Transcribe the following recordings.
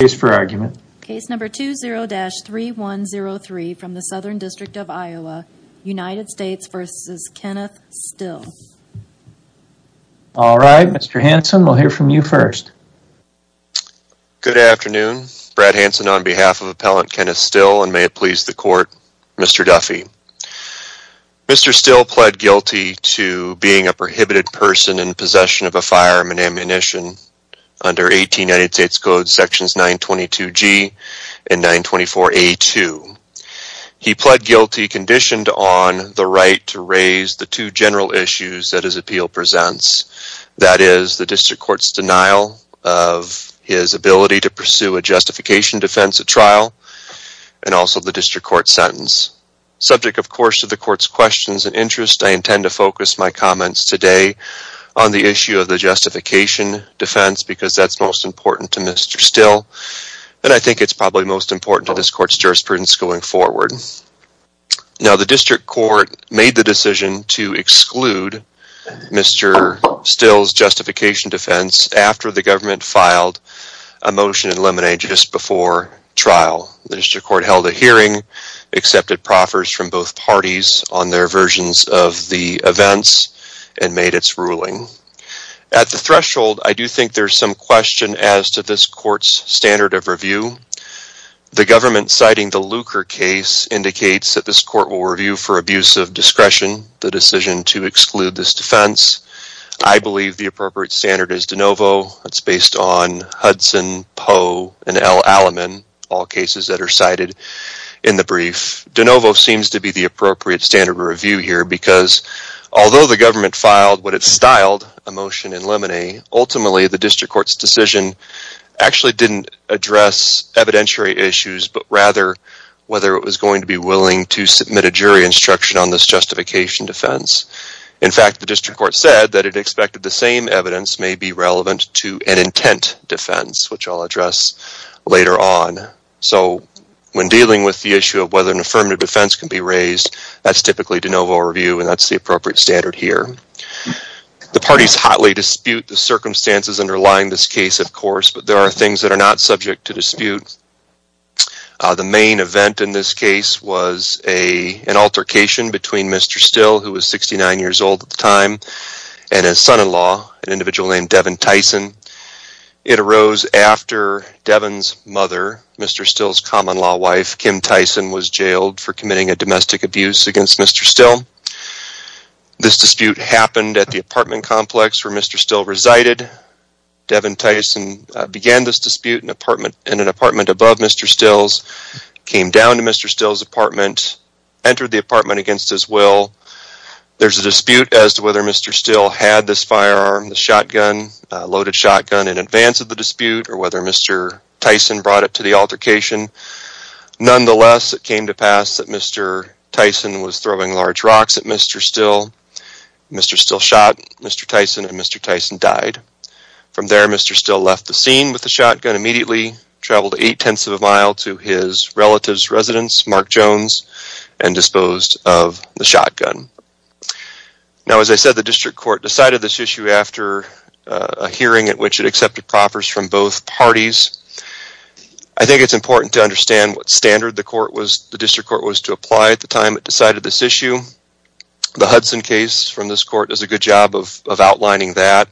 Mr. Still pled guilty to being a prohibited person in possession of a firearm and ammunition under 18 United States Code Sections 922G and 924A2. He pled guilty conditioned on the right to raise the two general issues that his appeal presents, that is, the District Court's denial of his ability to pursue a justification defense at trial, and also the District Court's sentence. Subject, of course, to the Court's questions and interests, I intend to focus my comments today on the issue of the justification defense, because that's most important to Mr. Still, and I think it's probably most important to this Court's jurisprudence going forward. Now, the District Court made the decision to exclude Mr. Still's justification defense after the government filed a motion in Lemonade just before trial. The District Court held a hearing, accepted proffers from both parties on their versions of the events, and made its ruling. At the threshold, I do think there's some question as to this Court's standard of review. The government citing the Lucre case indicates that this Court will review for abuse of discretion the decision to exclude this defense. I believe the appropriate standard is de novo. It's based on Hudson, Poe, and L. Alleman, all cases that are cited in the brief. De novo seems to be the appropriate standard of review here, because although the government filed what it styled a motion in Lemonade, ultimately the District Court's decision actually didn't address evidentiary issues, but rather whether it was going to be willing to submit a jury instruction on this justification defense. In fact, the District Court said that it expected the same evidence may be relevant to an intent defense, which I'll address later on. So, when dealing with the issue of whether an affirmative defense can be raised, that's typically de novo review, and that's the appropriate standard here. The parties hotly dispute the circumstances underlying this case, of course, but there are things that are not subject to dispute. The main event in this case was an altercation between Mr. Still, who was 69 years old at the time, and his son-in-law, an individual named Devin Tyson. It arose after Devin's mother, Mr. Still's common-law wife, Kim Tyson, was jailed for committing a domestic abuse against Mr. Still. This dispute happened at the apartment complex where Mr. Still resided. Devin Tyson began this dispute in an apartment above Mr. Still's, came down to Mr. Still's apartment, entered the apartment against his will. There's a dispute as to whether Mr. Still had this firearm, the loaded shotgun, in advance of the dispute, or whether Mr. Tyson brought it to the altercation. Nonetheless, it came to pass that Mr. Tyson was throwing large rocks at Mr. Still. Mr. Still shot Mr. Tyson, and Mr. Tyson died. From there, Mr. Still left the scene with the shotgun immediately, traveled 8 tenths of a mile to his relative's residence, Mark Jones, and disposed of the shotgun. Now, as I said, the district court decided this issue after a hearing at which it accepted proffers from both parties. I think it's important to understand what standard the district court was to apply at the time it decided this issue. The Hudson case from this court does a good job of outlining that.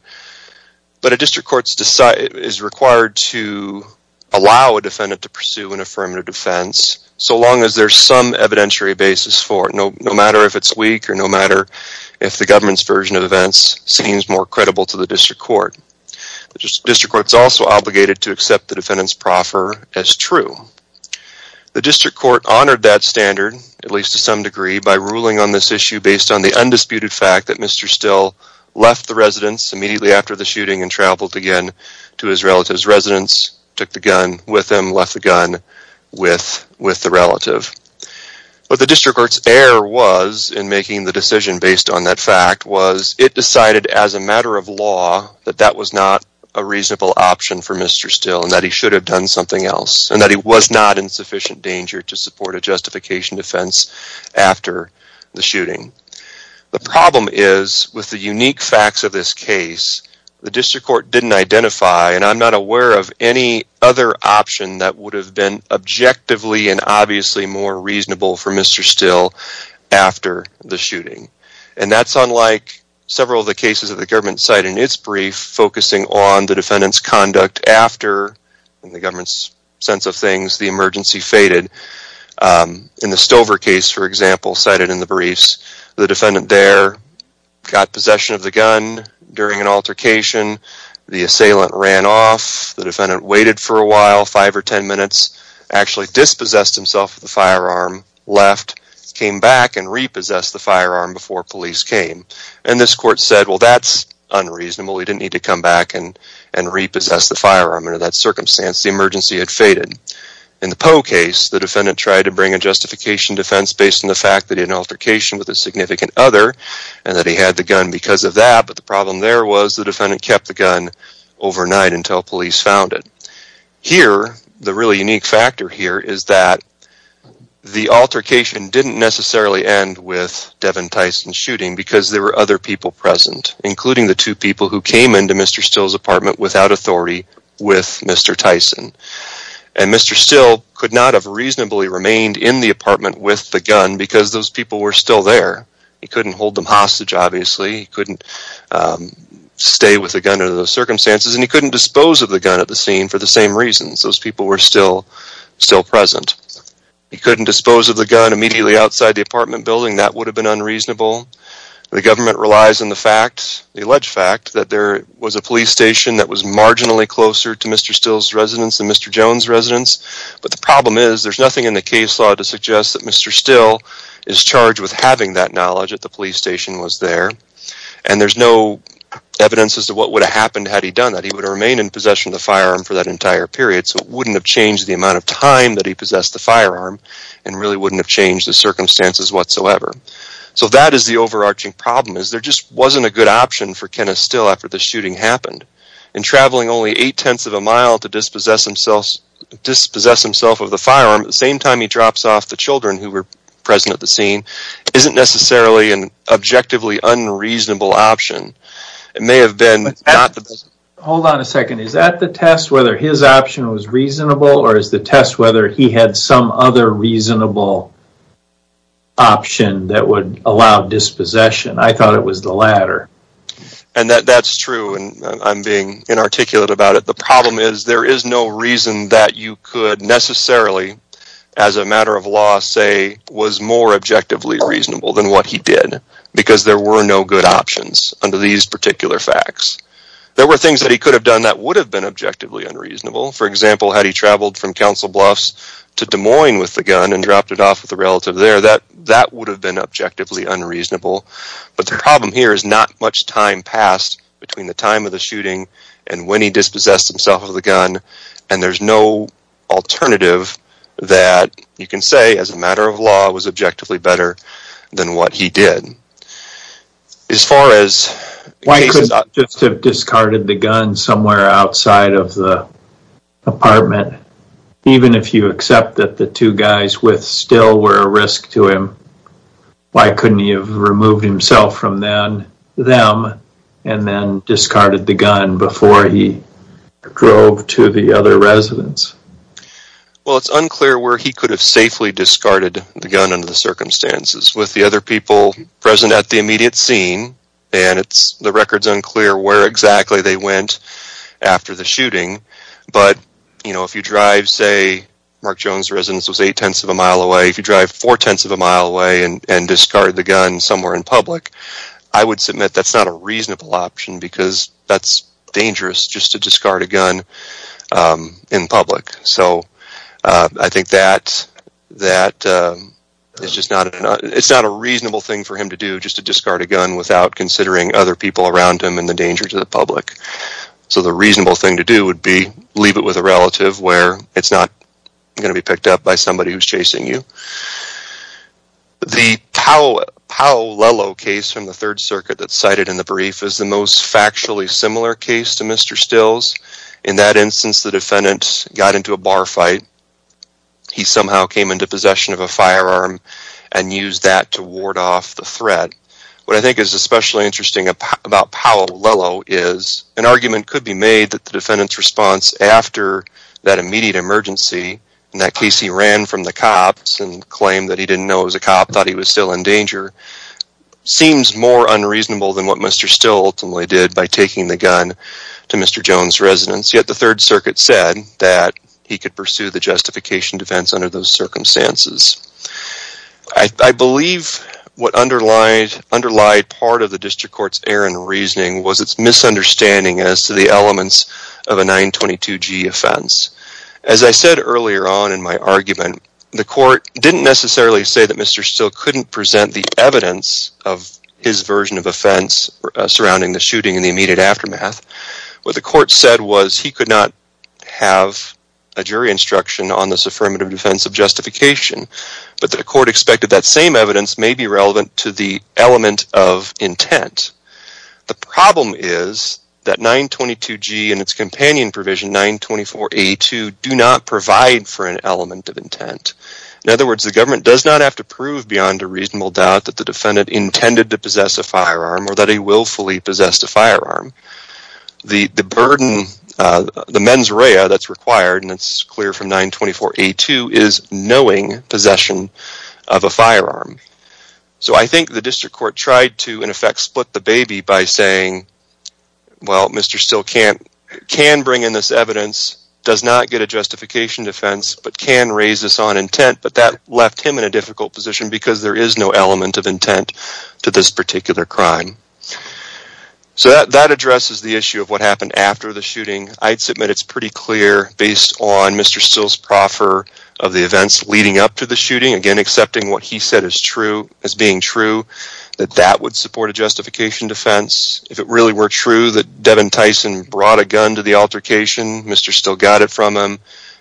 But a district court is required to allow a defendant to pursue an affirmative defense so long as there's some evidentiary basis for it, no matter if it's weak or no matter if the government's version of events seems more credible to the district court. The district court is also obligated to accept the defendant's proffer as true. The district court honored that standard, at least to some degree, by ruling on this issue based on the undisputed fact that Mr. Still left the residence immediately after the shooting and traveled again to his relative's residence, took the gun with him, left the gun with the relative. But the district court's error was, in making the decision based on that fact, was it decided as a matter of law that that was not a reasonable option for Mr. Still and that he should have done something else and that he was not in sufficient danger to support a justification defense after the shooting. The problem is, with the unique facts of this case, the district court didn't identify, and I'm not aware of any other option that would have been objectively and obviously more reasonable for Mr. Still after the shooting. And that's unlike several of the cases that the government cited in its brief focusing on the defendant's conduct after, in the government's sense of things, the emergency faded. In the Stover case, for example, cited in the briefs, the defendant there got possession of the gun during an altercation, the assailant ran off, the defendant waited for a while, 5 or 10 minutes, actually dispossessed himself of the firearm, left, came back and repossessed the firearm before police came. And this court said, well that's unreasonable, he didn't need to come back and repossess the firearm. Under that circumstance, the emergency had faded. In the Poe case, the defendant tried to bring a justification defense based on the fact that he had an altercation with a significant other and that he had the gun because of that, but the problem there was the defendant kept the gun overnight until police found it. Here, the really unique factor here is that the altercation didn't necessarily end with Devin Tyson's shooting because there were other people present, including the two people who came into Mr. Still's apartment without authority with Mr. Tyson. And Mr. Still could not have reasonably remained in the apartment with the gun because those people were still there. He couldn't hold them hostage, obviously, he couldn't stay with the gun under those circumstances, and he couldn't dispose of the gun at the scene for the same reasons. Those people were still present. He couldn't dispose of the gun immediately outside the apartment building, that would have been unreasonable. The government relies on the fact, the alleged fact, that there was a police station that was marginally closer to Mr. Still's residence than Mr. Jones' residence. But the problem is, there's nothing in the case law to suggest that Mr. Still is charged with having that knowledge that the police station was there. And there's no evidence as to what would have happened had he done that. He would have remained in possession of the firearm for that entire period, so it wouldn't have changed the amount of time that he possessed the firearm, and really wouldn't have changed the circumstances whatsoever. So that is the overarching problem, is there just wasn't a good option for Kenneth Still after the shooting happened. And traveling only eight-tenths of a mile to dispossess himself of the firearm, at the same time he drops off the children who were present at the scene, isn't necessarily an objectively unreasonable option. It may have been... Hold on a second, is that the test, whether his option was reasonable, or is the test whether he had some other reasonable option that would allow dispossession? I thought it was the latter. And that's true, and I'm being inarticulate about it. The problem is, there is no reason that you could necessarily, as a matter of law, say was more objectively reasonable than what he did. Because there were no good options under these particular facts. There were things that he could have done that would have been objectively unreasonable. For example, had he traveled from Council Bluffs to Des Moines with the gun, and dropped it off with a relative there, that would have been objectively unreasonable. But the problem here is not much time passed between the time of the shooting and when he dispossessed himself of the gun, and there's no alternative that you can say, as a matter of law, was objectively better than what he did. As far as... Why couldn't he just have discarded the gun somewhere outside of the apartment? Even if you accept that the two guys with Still were a risk to him, why couldn't he have removed himself from them, and then discarded the gun before he drove to the other residents? Well, it's unclear where he could have safely discarded the gun under the circumstances. With the other people present at the immediate scene, and the record's unclear where exactly they went after the shooting. But, you know, if you drive, say, Mark Jones' residence was 8 tenths of a mile away. If you drive 4 tenths of a mile away and discard the gun somewhere in public, I would submit that's not a reasonable option, because that's dangerous just to discard a gun in public. So I think that it's just not a reasonable thing for him to do, just to discard a gun without considering other people around him and the danger to the public. So the reasonable thing to do would be leave it with a relative where it's not going to be picked up by somebody who's chasing you. The Powell-Lello case from the 3rd Circuit that's cited in the brief is the most factually similar case to Mr. Still's. In that instance, the defendant got into a bar fight. He somehow came into possession of a firearm and used that to ward off the threat. What I think is especially interesting about Powell-Lello is an argument could be made that the defendant's response after that immediate emergency, in that case he ran from the cops and claimed that he didn't know it was a cop, thought he was still in danger, seems more unreasonable than what Mr. Still ultimately did by taking the gun to Mr. Jones' residence. Yet the 3rd Circuit said that he could pursue the justification defense under those circumstances. I believe what underlied part of the District Court's errant reasoning was its misunderstanding as to the elements of a 922G offense. As I said earlier on in my argument, the court didn't necessarily say that Mr. Still couldn't present the evidence of his version of offense surrounding the shooting in the immediate aftermath. What the court said was he could not have a jury instruction on this affirmative defense of justification, but the court expected that same evidence may be relevant to the element of intent. The problem is that 922G and its companion provision, 924A2, do not provide for an element of intent. In other words, the government does not have to prove beyond a reasonable doubt that the defendant intended to possess a firearm or that he willfully possessed a firearm. The mens rea that's required, and it's clear from 924A2, is knowing possession of a firearm. So I think the District Court tried to, in effect, split the baby by saying, well, Mr. Still can bring in this evidence, does not get a justification defense, but can raise this on intent, but that left him in a difficult position because there is no element of intent to this particular crime. So that addresses the issue of what happened after the shooting. I'd submit it's pretty clear, based on Mr. Still's proffer of the events leading up to the shooting, again, accepting what he said as being true, that that would support a justification defense. If it really were true that Devin Tyson brought a gun to the altercation, Mr. Still got it from him,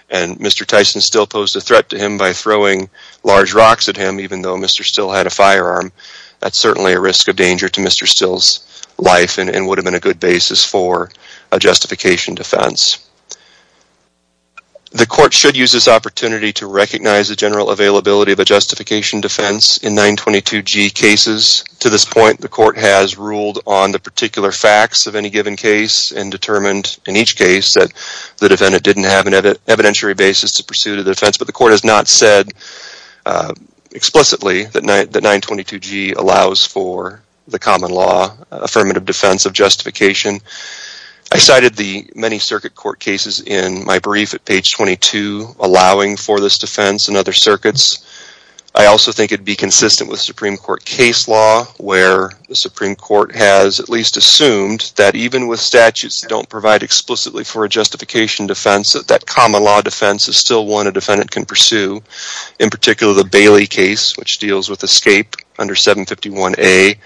and Mr. Tyson still posed a threat to him by throwing large rocks at him, even though Mr. Still had a firearm. That's certainly a risk of danger to Mr. Still's life and would have been a good basis for a justification defense. The court should use this opportunity to recognize the general availability of a justification defense in 922G cases. To this point, the court has ruled on the particular facts of any given case and determined in each case that the defendant didn't have an evidentiary basis to pursue the defense, but the court has not said explicitly that 922G allows for the common law affirmative defense of justification. I cited the many circuit court cases in my brief at page 22, allowing for this defense and other circuits. I also think it would be consistent with Supreme Court case law, where the Supreme Court has at least assumed that even with statutes that don't provide explicitly for a justification defense, that that common law defense is still one a defendant can pursue. In particular, the Bailey case, which deals with escape under 751A,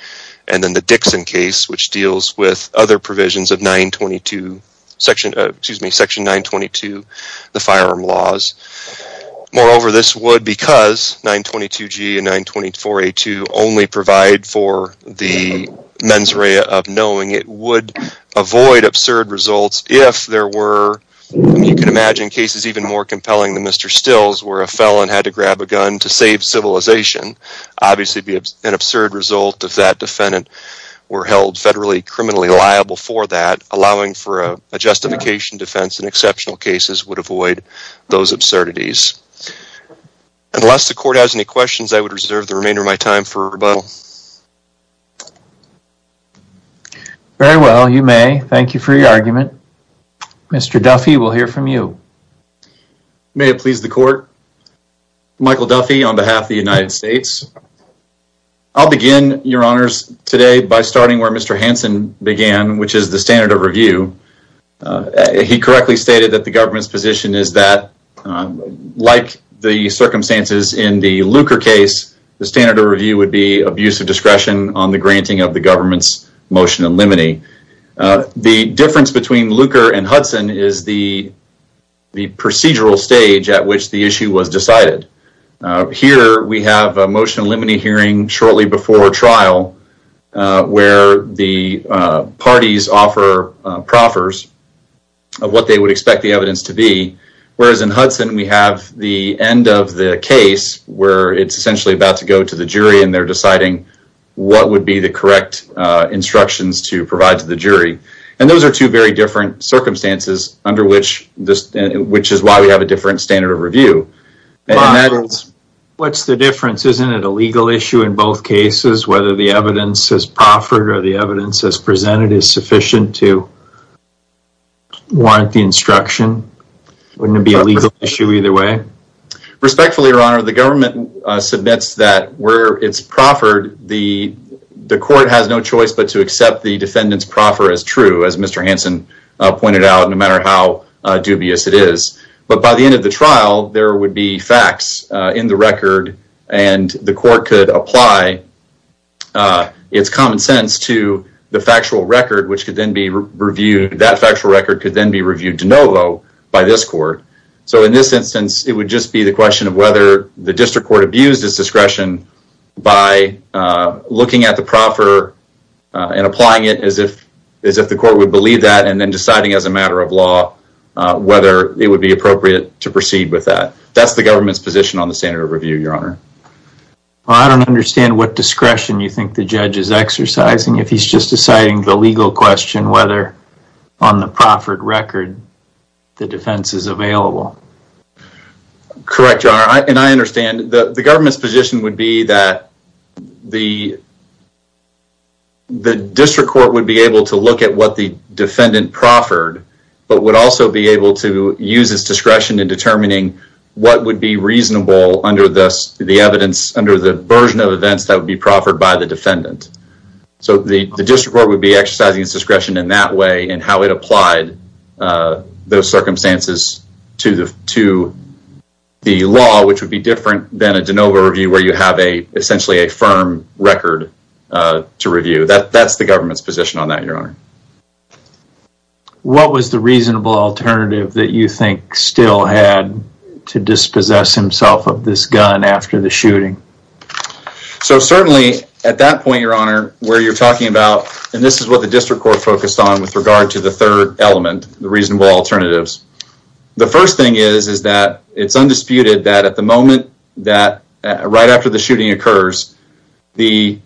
and then the Dixon case, which deals with other provisions of section 922, the firearm laws. Moreover, this would, because 922G and 924A2 only provide for the mens rea of knowing, it would avoid absurd results if there were, you can imagine, cases even more compelling than Mr. Stills, where a felon had to grab a gun to save civilization. Obviously, it would be an absurd result if that defendant were held federally criminally liable for that. Allowing for a justification defense in exceptional cases would avoid those absurdities. Unless the court has any questions, I would reserve the remainder of my time for rebuttal. Very well, you may. Thank you for your argument. Mr. Duffy, we'll hear from you. May it please the court. Michael Duffy on behalf of the United States. I'll begin, your honors, today by starting where Mr. Hansen began, which is the standard of review. He correctly stated that the government's position is that, like the circumstances in the Lucre case, the standard of review would be abuse of discretion on the granting of the government's motion in limine. The difference between Lucre and Hudson is the procedural stage at which the issue was decided. Here, we have a motion in limine hearing shortly before trial, where the parties offer proffers of what they would expect the evidence to be. Whereas in Hudson, we have the end of the case where it's essentially about to go to the jury, and they're deciding what would be the correct instructions to provide to the jury. And those are two very different circumstances, which is why we have a different standard of review. What's the difference? Isn't it a legal issue in both cases? Whether the evidence is proffered or the evidence is presented is sufficient to warrant the instruction? Wouldn't it be a legal issue either way? Respectfully, your honor, the government submits that where it's proffered, the court has no choice but to accept the defendant's proffer as true, as Mr. Hansen pointed out, no matter how dubious it is. But by the end of the trial, there would be facts in the record, and the court could apply its common sense to the factual record, which could then be reviewed, that factual record could then be reviewed de novo by this court. So in this instance, it would just be the question of whether the district court abused its discretion by looking at the proffer and applying it as if the court would believe that, and then deciding as a matter of law whether it would be appropriate to proceed with that. That's the government's position on the standard of review, your honor. I don't understand what discretion you think the judge is exercising if he's just deciding the legal question whether on the proffered record the defense is available. Correct, your honor, and I understand. The government's position would be that the district court would be able to look at what the defendant proffered, but would also be able to use its discretion in determining what would be reasonable under the version of events that would be proffered by the defendant. So the district court would be exercising its discretion in that way and how it applied those circumstances to the law, which would be different than a de novo review where you have essentially a firm record to review. That's the government's position on that, your honor. What was the reasonable alternative that you think still had to dispossess himself of this gun after the shooting? So certainly at that point, your honor, where you're talking about, and this is what the district court focused on with regard to the third element, the reasonable alternatives. The first thing is that it's undisputed that at the moment that right after the shooting occurs, the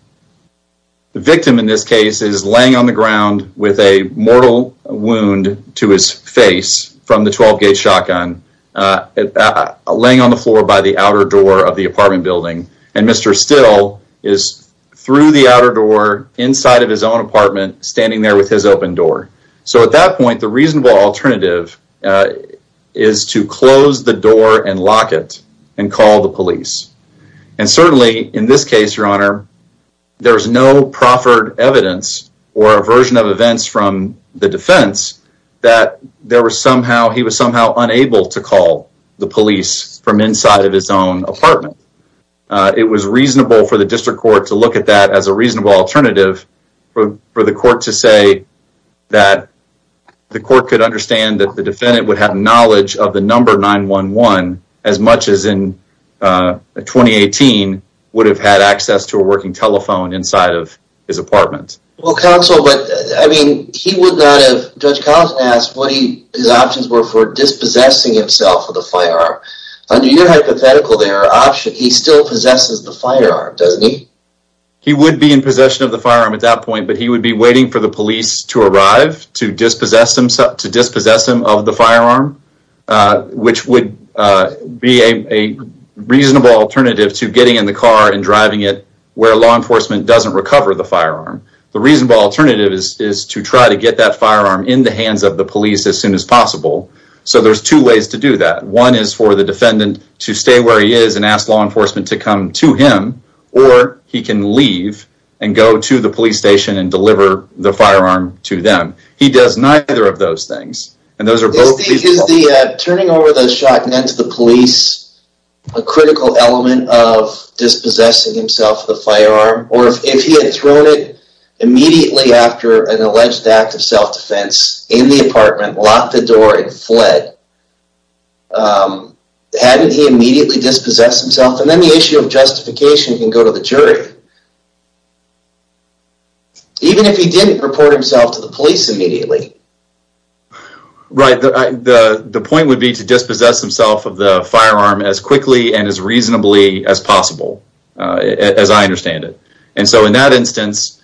victim in this case is laying on the ground with a mortal wound to his face from the 12-gauge shotgun, laying on the floor by the outer door of the apartment building, and Mr. Still is through the outer door inside of his own apartment, standing there with his open door. So at that point, the reasonable alternative is to close the door and lock it and call the police. And certainly in this case, your honor, there's no proffered evidence or a version of events from the defense that he was somehow unable to call the police from inside of his own apartment. It was reasonable for the district court to look at that as a reasonable alternative for the court to say that the court could understand that the defendant would have knowledge of the number 9-1-1 as much as in 2018 would have had access to a working telephone inside of his apartment. Well, counsel, but I mean, he would not have, Judge Collins asked, what his options were for dispossessing himself of the firearm. Under your hypothetical there, he still possesses the firearm, doesn't he? He would be in possession of the firearm at that point, but he would be waiting for the police to arrive to dispossess him of the firearm, which would be a reasonable alternative to getting in the car and driving it where law enforcement doesn't recover the firearm. The reasonable alternative is to try to get that firearm in the hands of the police as soon as possible. So there's two ways to do that. One is for the defendant to stay where he is and ask law enforcement to come to him, or he can leave and go to the police station and deliver the firearm to them. He does neither of those things. Is turning over the shotgun to the police a critical element of dispossessing himself of the firearm? Or if he had thrown it immediately after an alleged act of self-defense in the apartment, locked the door and fled, hadn't he immediately dispossessed himself? And then the issue of justification can go to the jury. Even if he didn't report himself to the police immediately. Right, the point would be to dispossess himself of the firearm as quickly and as reasonably as possible, as I understand it. And so in that instance,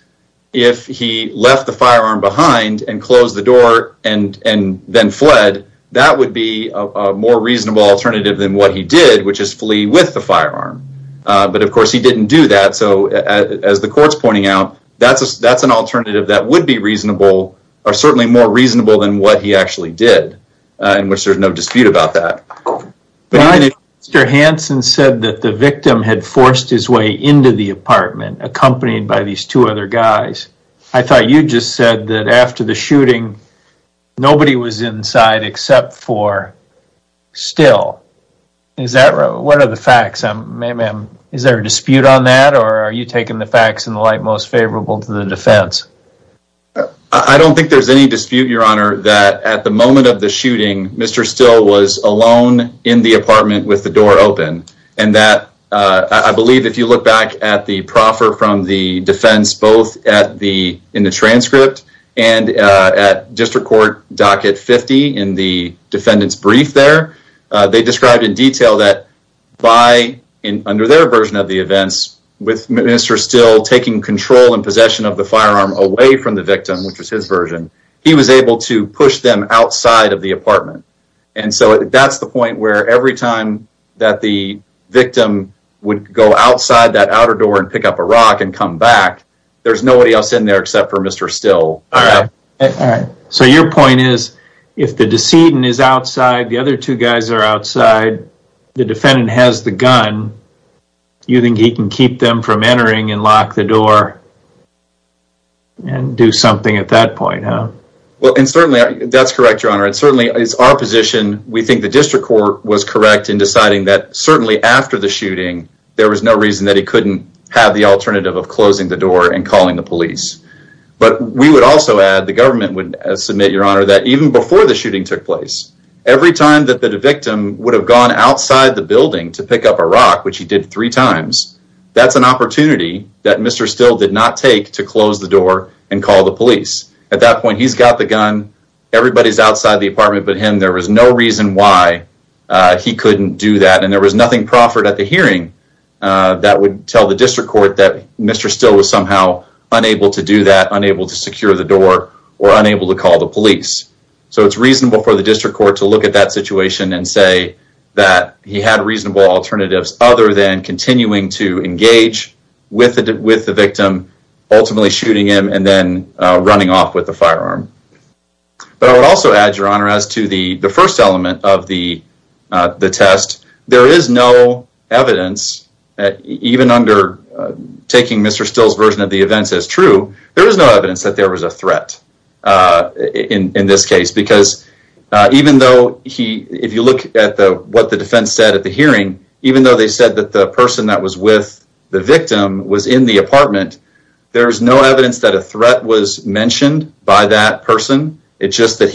if he left the firearm behind and closed the door and then fled, that would be a more reasonable alternative than what he did, which is flee with the firearm. But of course he didn't do that. So as the court's pointing out, that's an alternative that would be reasonable, or certainly more reasonable than what he actually did, in which there's no dispute about that. Mr. Hanson said that the victim had forced his way into the apartment, accompanied by these two other guys. I thought you just said that after the shooting, nobody was inside except for Still. What are the facts? Is there a dispute on that, or are you taking the facts in the light most favorable to the defense? I don't think there's any dispute, Your Honor, that at the moment of the shooting, Mr. Still was alone in the apartment with the door open. And I believe if you look back at the proffer from the defense, both in the transcript and at District Court Docket 50 in the defendant's brief there, they described in detail that under their version of the events, with Mr. Still taking control and possession of the firearm away from the victim, which was his version, he was able to push them outside of the apartment. And so that's the point where every time that the victim would go outside that outer door and pick up a rock and come back, there's nobody else in there except for Mr. Still. So your point is, if the decedent is outside, the other two guys are outside, the defendant has the gun, you think he can keep them from entering and lock the door and do something at that point, huh? Well, and certainly that's correct, Your Honor. It certainly is our position. We think the District Court was correct in deciding that certainly after the shooting, there was no reason that he couldn't have the alternative of closing the door and calling the police. But we would also add, the government would submit, Your Honor, that even before the shooting took place, every time that the victim would have gone outside the building to pick up a rock, which he did three times, that's an opportunity that Mr. Still did not take to close the door and call the police. At that point, he's got the gun, everybody's outside the apartment but him. There was no reason why he couldn't do that. And there was nothing proffered at the hearing that would tell the District Court that Mr. Still was somehow unable to do that, unable to secure the door, or unable to call the police. So it's reasonable for the District Court to look at that situation and say that he had reasonable alternatives other than continuing to engage with the victim, ultimately shooting him, and then running off with the firearm. But I would also add, Your Honor, as to the first element of the test, there is no evidence, even under taking Mr. Still's version of the events as true, there is no evidence that there was a threat in this case. Because even though, if you look at what the defense said at the hearing, even though they said that the person that was with the victim was in the apartment, there's no evidence that a threat was mentioned by that person. It's just that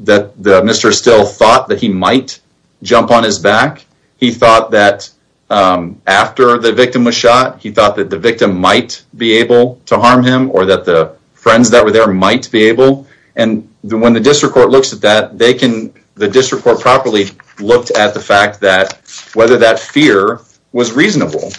Mr. Still thought that he might jump on his back. He thought that after the victim was shot, he thought that the victim might be able to harm him, or that the friends that were there might be able. And when the District Court looks at that, the District Court properly looked at the fact that whether that fear was reasonable.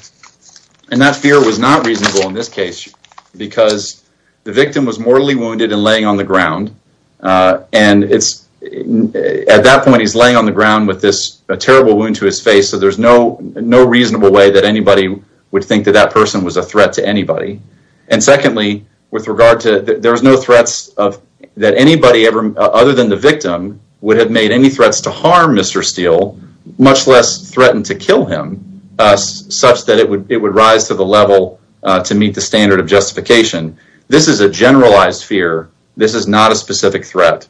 And that fear was not reasonable in this case, because the victim was mortally wounded and laying on the ground. And at that point, he's laying on the ground with this terrible wound to his face, so there's no reasonable way that anybody would think that that person was a threat to anybody. And secondly, there were no threats that anybody other than the victim would have made any threats to harm Mr. Still, much less threatened to kill him, such that it would rise to the level to meet the standard of justification. This is a generalized fear. This is not a specific threat.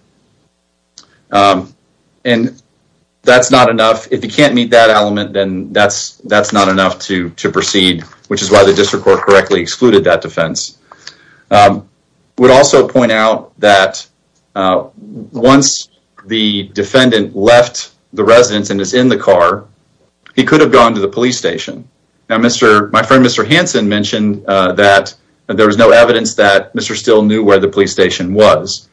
And that's not enough. If you can't meet that element, then that's not enough to proceed, which is why the District Court correctly excluded that defense. I would also point out that once the defendant left the residence and is in the car, he could have gone to the police station. Now, my friend Mr. Hanson mentioned that there was no evidence that Mr. Still knew where the police station was.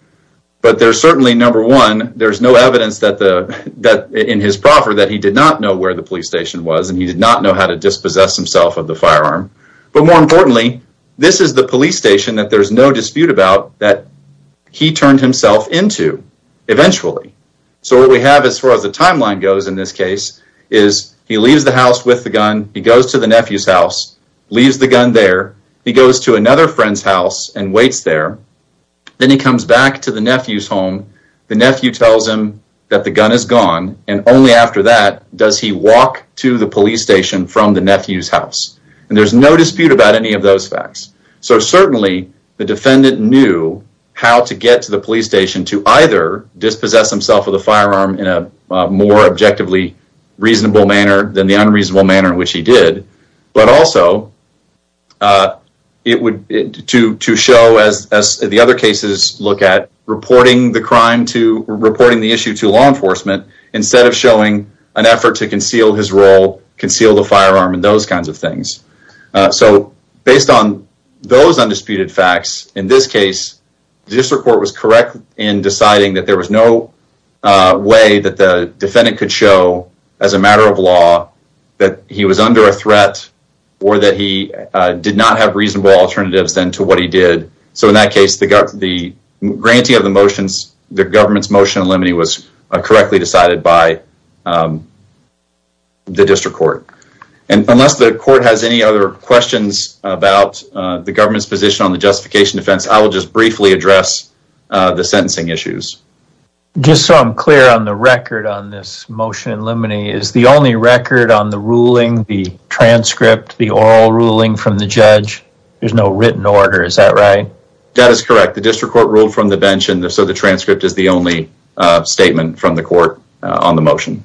But there's certainly, number one, there's no evidence in his proffer that he did not know where the police station was, and he did not know how to dispossess himself of the firearm. But more importantly, this is the police station that there's no dispute about that he turned himself into, eventually. So what we have, as far as the timeline goes in this case, is he leaves the house with the gun. He goes to the nephew's house, leaves the gun there. He goes to another friend's house and waits there. Then he comes back to the nephew's home. The nephew tells him that the gun is gone, and only after that does he walk to the police station from the nephew's house. And there's no dispute about any of those facts. So certainly, the defendant knew how to get to the police station to either dispossess himself of the firearm in a more objectively reasonable manner than the unreasonable manner in which he did, but also to show, as the other cases look at, reporting the crime to, reporting the issue to law enforcement instead of showing an effort to conceal his role, conceal the firearm, and those kinds of things. So based on those undisputed facts, in this case, the district court was correct in deciding that there was no way that the defendant could show, as a matter of law, that he was under a threat or that he did not have reasonable alternatives then to what he did. So in that case, the granting of the government's motion in limine was correctly decided by the district court. And unless the court has any other questions about the government's position on the justification defense, I will just briefly address the sentencing issues. Just so I'm clear on the record on this motion in limine, is the only record on the ruling, the transcript, the oral ruling from the judge? There's no written order, is that right? That is correct. The district court ruled from the bench, and so the transcript is the only statement from the court on the motion.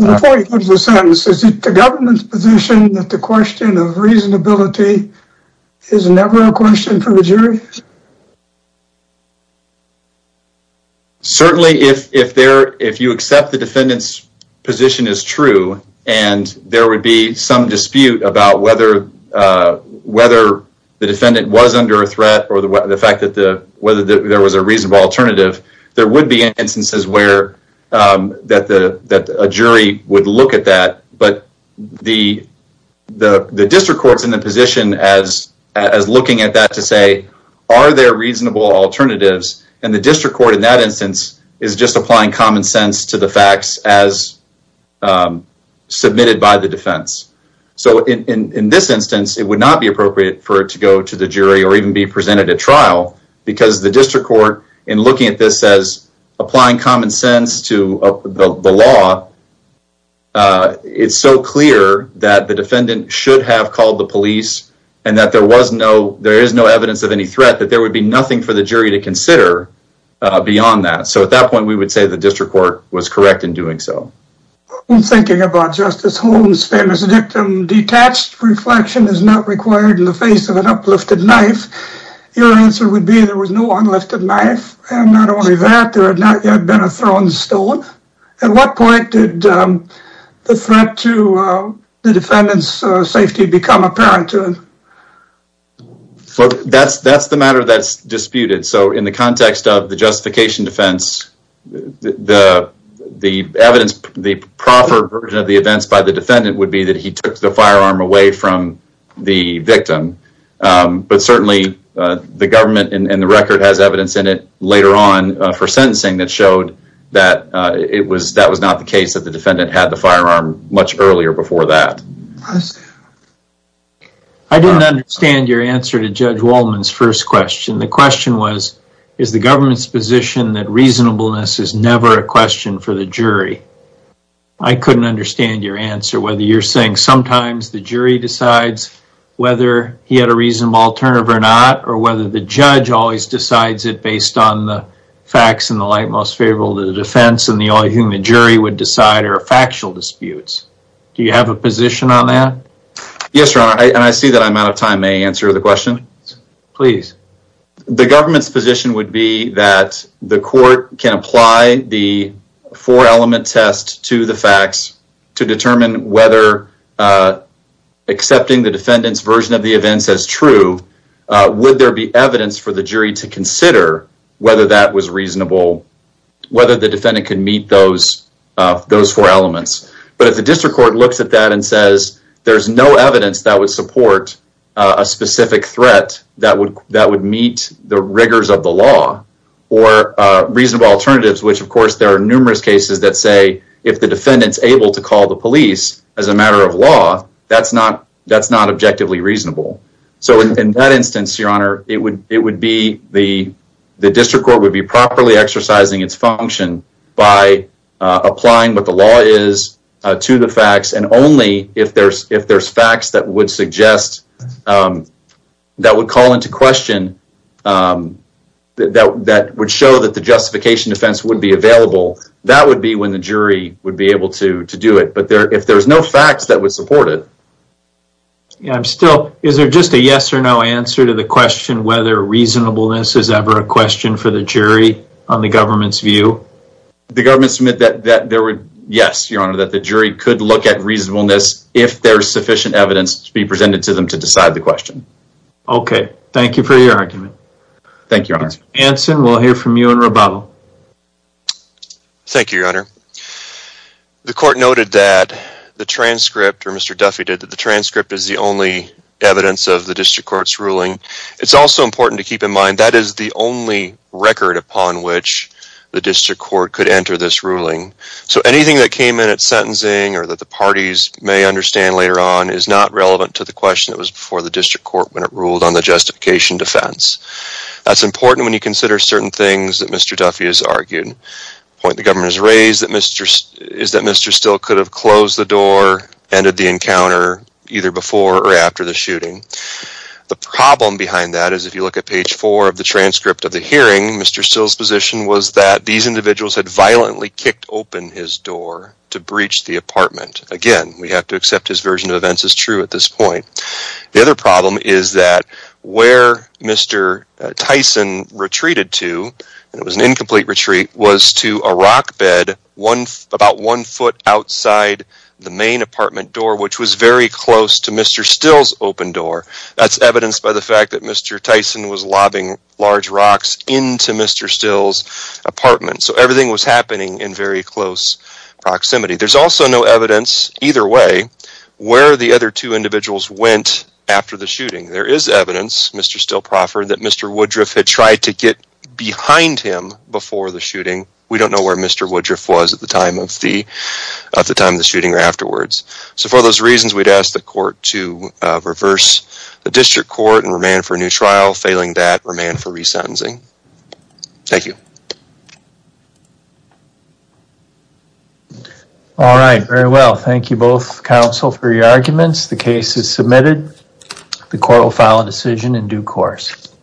Before you go to the sentence, is it the government's position that the question of reasonability is never a question for the jury? Certainly, if you accept the defendant's position is true and there would be some dispute about whether the defendant was under a threat or the fact that there was a reasonable alternative, there would be instances where a jury would look at that. But the district court's in a position as looking at that to say, are there reasonable alternatives? And the district court in that instance is just applying common sense to the facts as submitted by the defense. So in this instance, it would not be appropriate for it to go to the jury or even be presented at trial because the district court, in looking at this as applying common sense to the law, it's so clear that the defendant should have called the police and that there is no evidence of any threat that there would be nothing for the jury to consider beyond that. So at that point, we would say the district court was correct in doing so. In thinking about Justice Holmes' famous dictum, detached reflection is not required in the face of an uplifted knife, your answer would be there was no unlifted knife, and not only that, there had not yet been a thrown stone. At what point did the threat to the defendant's safety become apparent to him? That's the matter that's disputed. So in the context of the justification defense, the evidence, the proper version of the events by the defendant would be that he took the firearm away from the victim, but certainly the government and the record has evidence in it later on for sentencing that showed that that was not the case, that the defendant had the firearm much earlier before that. I didn't understand your answer to Judge Wallman's first question. The question was, is the government's position that reasonableness is never a question for the jury? I couldn't understand your answer, whether you're saying sometimes the jury decides whether he had a reasonable alternative or not, or whether the judge always decides it based on the facts in the light most favorable to the defense, and the only thing the jury would decide are factual disputes. Do you have a position on that? Yes, Your Honor, and I see that I'm out of time. May I answer the question? Please. The government's position would be that the court can apply the four-element test to the facts to determine whether accepting the defendant's version of the events as true, would there be evidence for the jury to consider whether that was reasonable, whether the defendant could meet those four elements. But if the district court looks at that and says there's no evidence that would support a specific threat that would meet the rigors of the law, or reasonable alternatives, which of course there are numerous cases that say if the defendant's able to call the police as a matter of law, that's not objectively reasonable. So in that instance, Your Honor, it would be the district court would be properly exercising its function by applying what the law is to the facts, and only if there's facts that would call into question, that would show that the justification defense would be available, that would be when the jury would be able to do it. But if there's no facts that would support it. I'm still, is there just a yes or no answer to the question whether reasonableness is ever a question for the jury on the government's view? The government's meant that there would, yes, Your Honor, that the jury could look at reasonableness if there's sufficient evidence to be presented to them to decide the question. Okay, thank you for your argument. Thank you, Your Honor. Anson, we'll hear from you in rebuttal. Thank you, Your Honor. The court noted that the transcript, or Mr. Duffy did, that the transcript is the only evidence of the district court's ruling. It's also important to keep in mind that is the only record upon which the district court could enter this ruling. So anything that came in at sentencing or that the parties may understand later on is not relevant to the question that was before the district court when it ruled on the justification defense. That's important when you consider certain things that Mr. Duffy has argued. The point the government has raised is that Mr. Still could have closed the door, ended the encounter, either before or after the shooting. The problem behind that is if you look at page 4 of the transcript of the hearing, Mr. Still's position was that these individuals had violently kicked open his door to breach the apartment. Again, we have to accept his version of events as true at this point. The other problem is that where Mr. Tyson retreated to, it was an incomplete retreat, was to a rock bed about one foot outside the main apartment door, which was very close to Mr. Still's open door. That's evidenced by the fact that Mr. Tyson was lobbing large rocks into Mr. Still's apartment. So everything was happening in very close proximity. There's also no evidence either way where the other two individuals went after the shooting. There is evidence, Mr. Still proffered, that Mr. Woodruff had tried to get behind him before the shooting. We don't know where Mr. Woodruff was at the time of the shooting or afterwards. So for those reasons, we'd ask the court to reverse the district court and remand for a new trial. Failing that, remand for resentencing. Thank you. All right, very well. Thank you both, counsel, for your arguments. The case is submitted. The court will file a decision in due course.